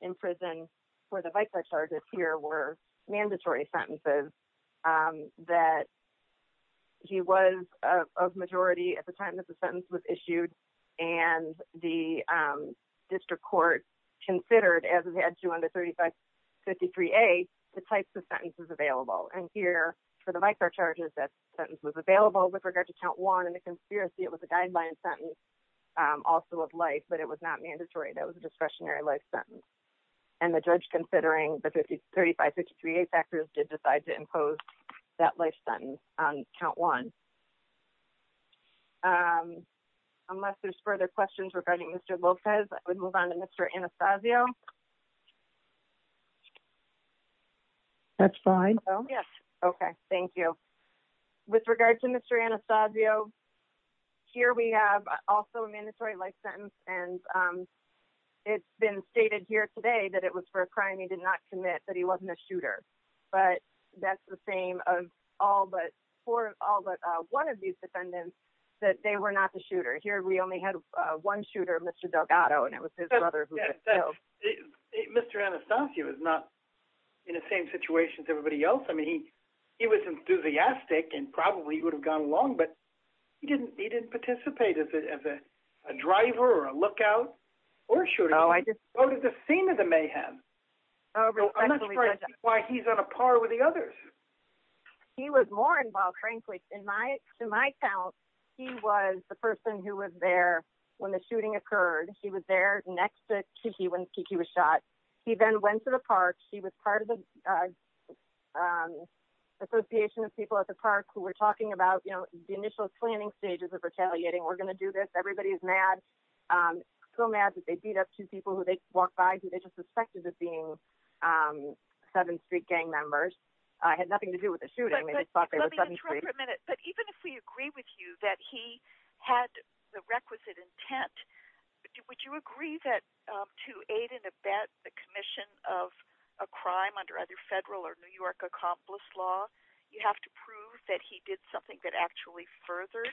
in prison for the vicar charges here were mandatory sentences, that he was of majority at the time that the sentence was issued. And the district court considered, as it had to on the 3553A, the types of sentences available. And here, for the vicar charges, that sentence was available. With regard to count one and the conspiracy, it was a guideline sentence, also of life, but it was not mandatory. That was a discretionary life sentence. And the judge, considering the 3553A factors, did decide to impose that life sentence on count one. Unless there's further questions regarding Mr. Lopez, I would move on to Mr. Anastasio. That's fine. Oh, yes. Okay, thank you. With regard to Mr. Anastasio, here we have also a mandatory life sentence. And it's been stated here today that it was for a crime he did not commit, that he wasn't a shooter. But that's the same for all but one of these defendants, that they were not the shooter. Here, we only had one shooter, Mr. Delgado, and it was his brother who was killed. Mr. Anastasio is not in the same situation as everybody else. I mean, he was enthusiastic, and probably he would have gone along. But he didn't participate as a driver, or a lookout, or a shooter. Oh, I just— Oh, respectfully— Why he's on a par with the others? He was more involved, frankly. In my account, he was the person who was there when the shooting occurred. He was there next to Kiki when Kiki was shot. He then went to the park. He was part of the Association of People at the Park, who were talking about the initial planning stages of retaliating. We're going to do this. Everybody is mad, so mad that they beat up two people who they walked by, who they just suspected of being 7th Street gang members. It had nothing to do with the shooting. They just thought they were 7th Street— But let me interrupt for a minute. But even if we agree with you that he had the requisite intent, would you agree that to aid and abet the commission of a crime under either federal or New York accomplice law, you have to prove that he did something that actually furthered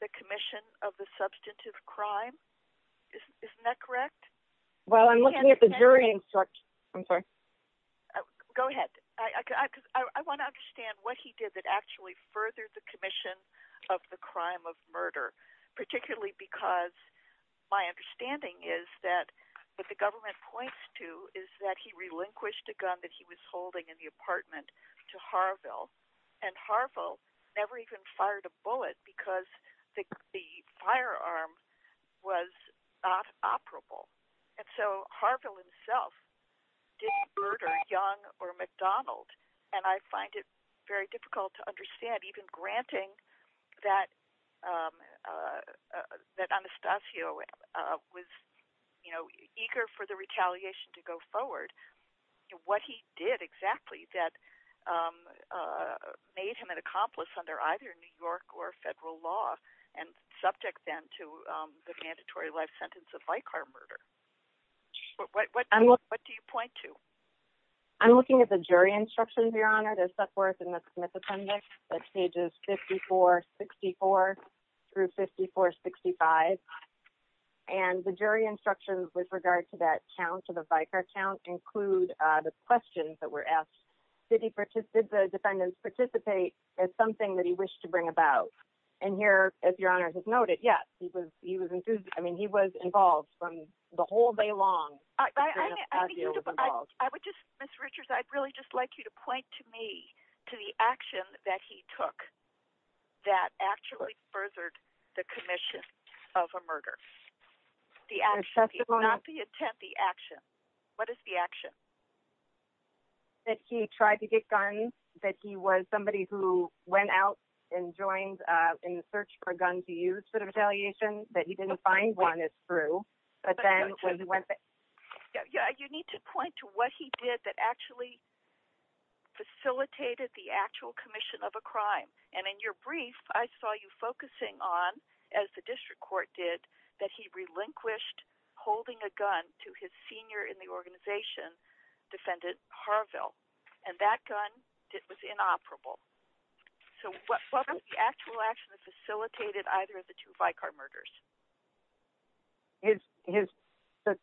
the commission of the substantive crime? Isn't that correct? Well, I'm looking at the jury instruction. I'm sorry. Go ahead. I want to understand what he did that actually furthered the commission of the crime of murder, particularly because my understanding is that what the government points to is that he relinquished a gun that he was holding in the apartment to Harville, and Harville never even fired a bullet because the firearm was not operable. And so Harville himself didn't murder Young or McDonald, and I find it very difficult to understand, even granting that Anastasio was eager for the retaliation to go forward, what he did exactly that made him an accomplice under either New York or federal law and subject then to the mandatory life sentence of Vicar murder. What do you point to? I'm looking at the jury instructions, Your Honor. There's that for us in the Smith Appendix, that's pages 54-64 through 54-65, and the jury instructions with regard to that count, to the Vicar count, include the questions that were asked. Did the defendants participate as something that he wished to bring about? And here, as Your Honor has noted, yes, he was, I mean, he was involved from the whole day long. I would just, Ms. Richards, I'd really just like you to point to me to the action that he took that actually furthered the commission of a murder. The action, not the intent, the action. What is the action? That he tried to get guns, that he was somebody who went out and joined in the search for a gun to use for retaliation, that he didn't find one, is true, but then he went back. You need to point to what he did that actually facilitated the actual commission of a crime. And in your brief, I saw you focusing on, as the district court did, that he relinquished holding a gun to his senior in the organization, Defendant Harville. And that gun, it was inoperable. So what was the actual action that facilitated either of the two Vicar murders? His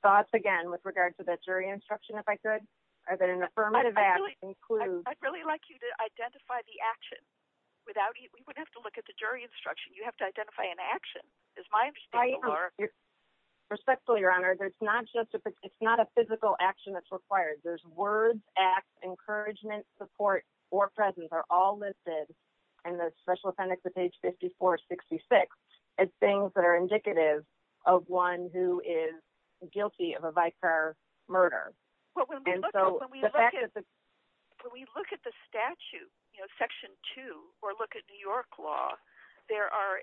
thoughts, again, with regard to that jury instruction, if I could, are that an affirmative action includes... I'd really like you to identify the action. We would have to look at the jury instruction. You have to identify an action. It's my understanding, Laura. Respectfully, Your Honor, it's not a physical action that's required. There's words, acts, encouragement, support, or presence are all listed in the special appendix of page 5466 as things that are indicative of one who is guilty of a Vicar murder. Well, when we look at the statute, Section 2, or look at New York law, there are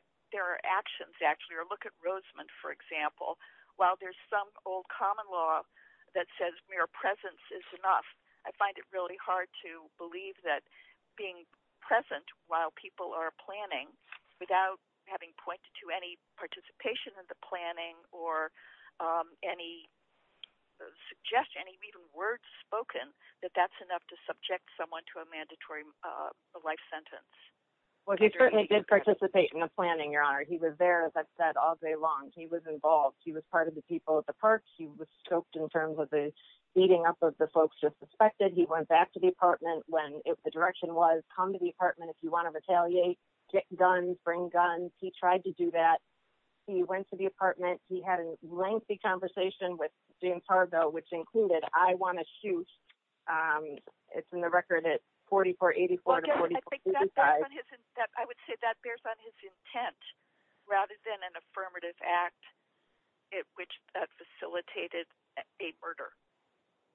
actions or look at Roseman, for example. While there's some old common law that says mere presence is enough, I find it really hard to believe that being present while people are planning without having pointed to any participation in the planning or any suggestion, even words spoken, that that's enough to subject someone to a mandatory life sentence. He was there, as I've said, all day long. He was involved. He was part of the people at the park. He was scoped in terms of the beating up of the folks just suspected. He went back to the apartment when the direction was, come to the apartment if you want to retaliate, get guns, bring guns. He tried to do that. He went to the apartment. He had a lengthy conversation with James Fargo, which included, I want to shoot. It's in the record at 4484 to 4455. I would say that bears on his intent rather than an affirmative act which facilitated a murder.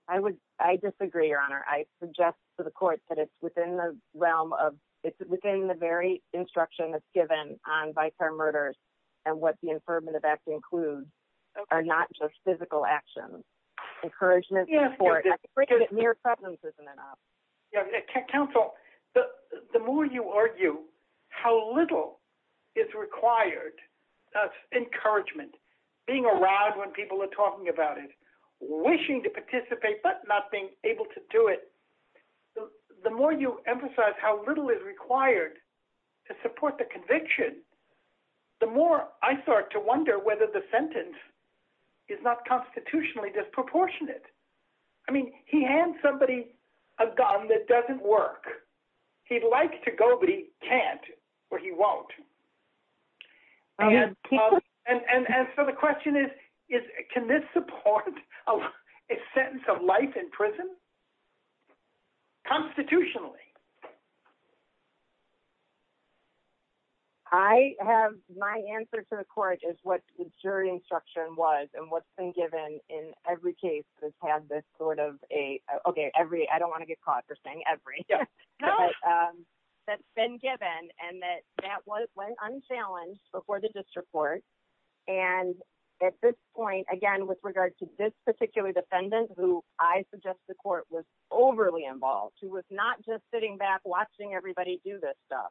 I disagree, Your Honor. I suggest to the court that it's within the realm of, it's within the very instruction that's given on vicar murders and what the affirmative act includes are not just physical actions. Encouragement is important. I think mere presence isn't enough. Counsel, the more you argue how little is required of encouragement, being around when people are talking about it, wishing to participate but not being able to do it, the more you emphasize how little is required to support the conviction, the more I start to wonder whether the sentence is not constitutionally disproportionate. He hands somebody a gun that doesn't work. He'd like to go but he can't or he won't. So the question is, can this support a sentence of life in prison constitutionally? I have my answer to the court is what the jury instruction was and what's been given in every case has had this sort of a, okay, every, I don't want to get caught for saying every, that's been given and that went unchallenged before the district court. And at this point, again, with regard to this particular defendant who I suggest the court was overly involved, who was not just sitting back watching everybody do this stuff.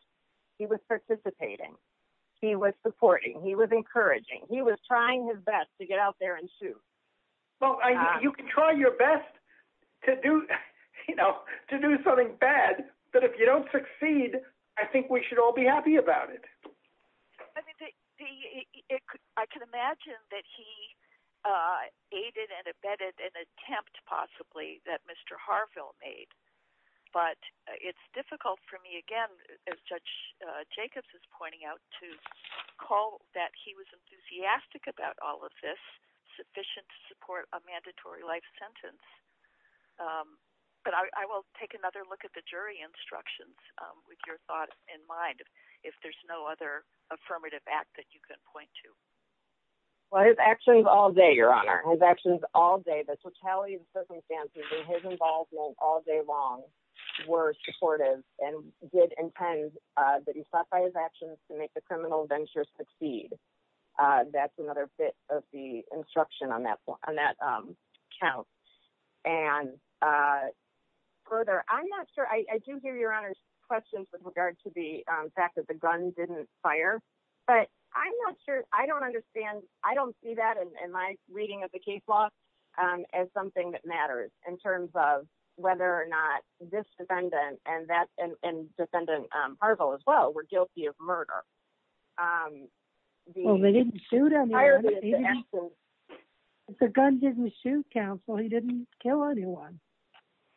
He was participating. He was supporting. He was encouraging. He was trying his best to get out there and shoot. Well, you can try your best to do something bad, but if you don't succeed, I think we should all be happy about it. I can imagine that he aided and abetted an attempt possibly that Mr. Harville made. But it's difficult for me, again, as Judge Jacobs is pointing out to call that he was a mandatory life sentence. But I will take another look at the jury instructions with your thoughts in mind. If there's no other affirmative act that you can point to. Well, his actions all day, your honor, his actions all day, the totality of the circumstances and his involvement all day long were supportive and did intend that he stopped by his actions to make the criminal ventures succeed. That's another bit of the instruction on that on that count and further. I'm not sure. I do hear your honor's questions with regard to the fact that the gun didn't fire, but I'm not sure. I don't understand. I don't see that in my reading of the case law as something that matters in terms of whether or not this defendant and that and defendant Harville as well were guilty of murder. Well, they didn't shoot him. The gun didn't shoot counsel. He didn't kill anyone.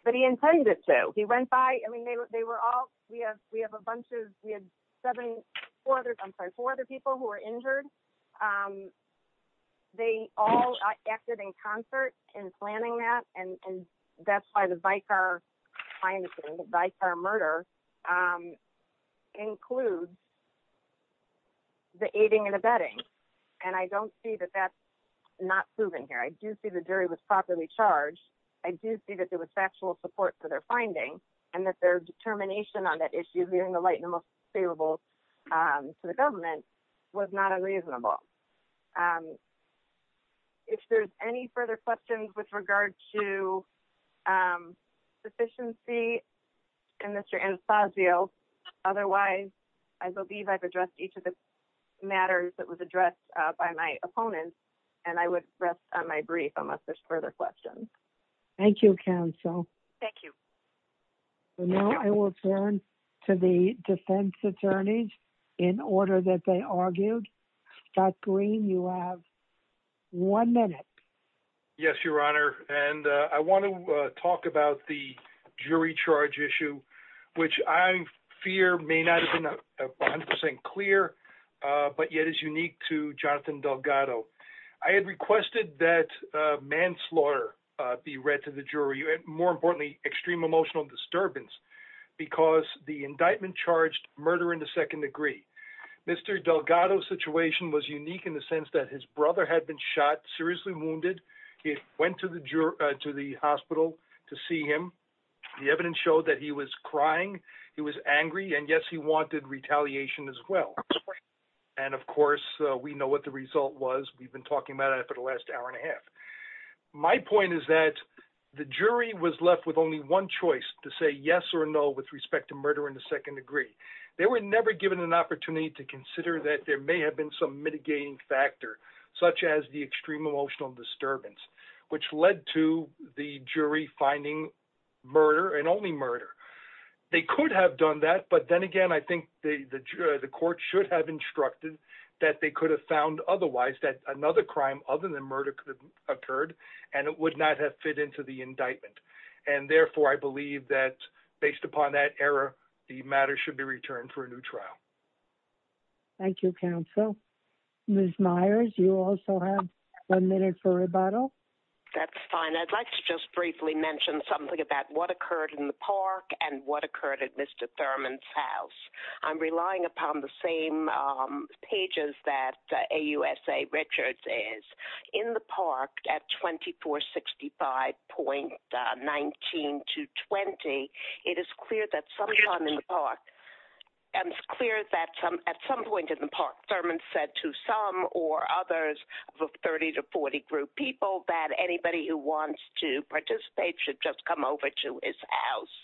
But he intended to. He went by. I mean, they were all we have we have a bunch of we had seven or four other people who were injured. They all acted in concert in planning that. And that's why the Vicar finding the Vicar murder includes the aiding and abetting. And I don't see that that's not proven here. I do see the jury was properly charged. I do see that there was factual support for their finding and that their determination on that issue leaving the light in the most favorable to the government was not unreasonable. And if there's any further questions with regard to sufficiency and Mr. Otherwise, I believe I've addressed each of the matters that was addressed by my opponent. And I would rest on my brief unless there's further questions. Thank you, counsel. Thank you. I will turn to the defense attorneys in order that they argued that green. You have one minute. Yes, Your Honor. And I want to talk about the jury charge issue, which I fear may not have been 100% clear, but yet is unique to Jonathan Delgado. I had requested that manslaughter be read to the jury and more importantly, extreme emotional disturbance because the indictment charged murder in the second degree. Mr. Delgado situation was unique in the sense that his brother had been shot, seriously wounded. He went to the hospital to see him. The evidence showed that he was crying. He was angry. And yes, he wanted retaliation as well. And of course, we know what the result was. We've been talking about it for the last hour and a half. My point is that the jury was left with only one choice to say yes or no, with respect to murder in the second degree. They were never given an opportunity to consider that there may have been some mitigating factor, such as the extreme emotional disturbance, which led to the jury finding murder and only murder. They could have done that. But then again, I think the court should have instructed that they could have found otherwise that another crime other than murder could have occurred, and it would not have fit into the indictment. And therefore, I believe that based upon that error, the matter should be returned for a new trial. Thank you, counsel. Ms. Myers, you also have one minute for rebuttal. That's fine. I'd like to just briefly mention something about what occurred in the park and what occurred at Mr. Thurman's house. I'm relying upon the same pages that AUSA Richards is. In the park, at 2465.19220, it is clear that at some point in the park, Thurman said to some or others of a 30 to 40 group people that anybody who wants to participate should just come over to his house.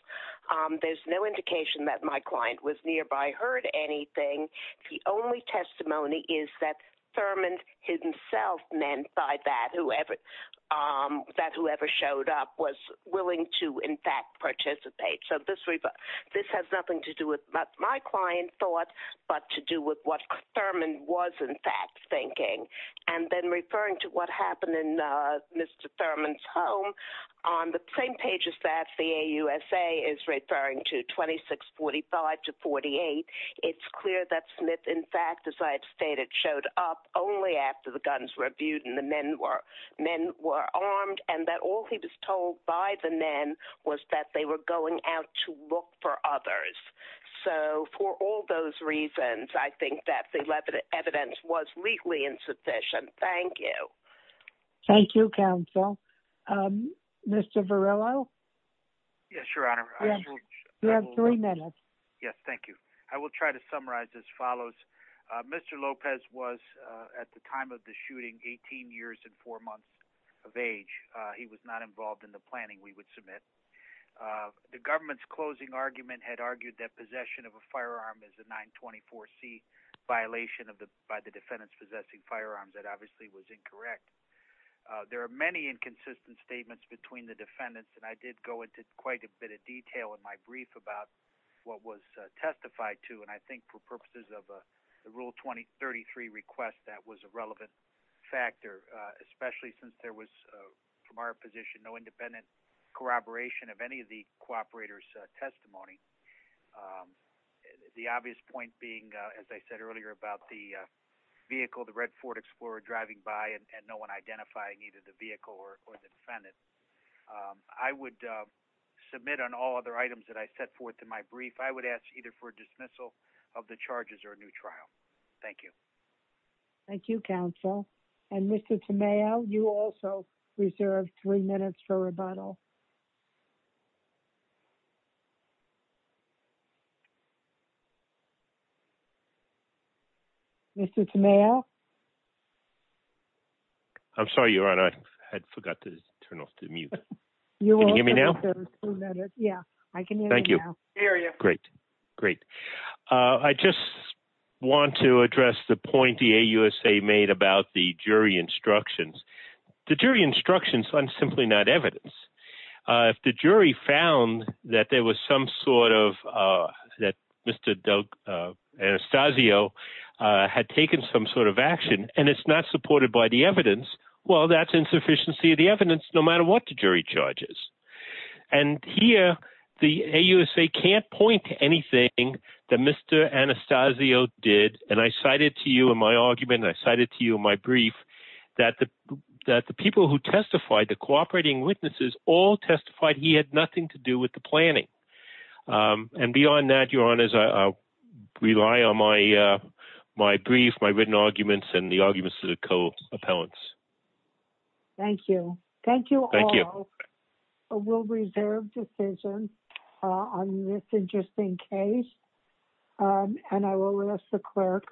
There's no indication that my client was nearby heard anything. The only testimony is that Thurman himself meant by that, that whoever showed up was willing to, in fact, participate. So this has nothing to do with what my client thought, but to do with what Thurman was, in fact, thinking. And then referring to what happened in Mr. Thurman's home, on the same pages that the AUSA is referring to, 2645 to 48, it's clear that Smith, in fact, as I've stated, showed up only after the guns were viewed and the men were armed and that all he was told by the men was that they were going out to look for others. So for all those reasons, I think that the evidence was legally insufficient. Thank you. Thank you, counsel. Mr. Verrillo? Yes, Your Honor. You have three minutes. Yes, thank you. I will try to summarize as follows. Mr. Lopez was, at the time of the shooting, 18 years and four months of age. He was not involved in the planning we would submit. The government's closing argument had argued that possession of a firearm is a 924C violation by the defendants possessing firearms. That obviously was incorrect. There are many inconsistent statements between the defendants, and I did go into quite a bit of detail in my brief about what was testified to. And I think for purposes of a Rule 2033 request, that was a relevant factor, especially since there was, from our position, no independent corroboration of any of the cooperator's testimony. The obvious point being, as I said earlier, about the vehicle, the red Ford Explorer driving by and no one identifying either the vehicle or the defendant. I would submit on all other items that I set forth in my brief, I would ask either for a dismissal of the charges or a new trial. Thank you. Thank you, counsel. And Mr. Tameo, you also reserve three minutes for rebuttal. Mr. Tameo? I'm sorry, Your Honor. I had forgot to turn off the mute. Can you hear me now? Yeah, I can hear you now. Thank you. Great, great. I just want to address the point the AUSA made about the jury instructions. The jury instructions are simply not evidence. If the jury found that there was some sort of, that Mr. Anastasio had taken some sort of action and it's not supported by the evidence, well, that's insufficiency of the evidence, no matter what the jury charge is. And here, the AUSA can't point to anything that Mr. Anastasio did. And I cited to you in my argument and I cited to you in my brief that the people who testified, the cooperating witnesses, all testified he had nothing to do with the planning. And beyond that, Your Honors, I rely on my brief, my written arguments and the arguments to the co-appellants. Thank you. Thank you all. Thank you. We'll reserve decisions on this interesting case. And I will ask the clerk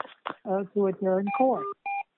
to adjourn court.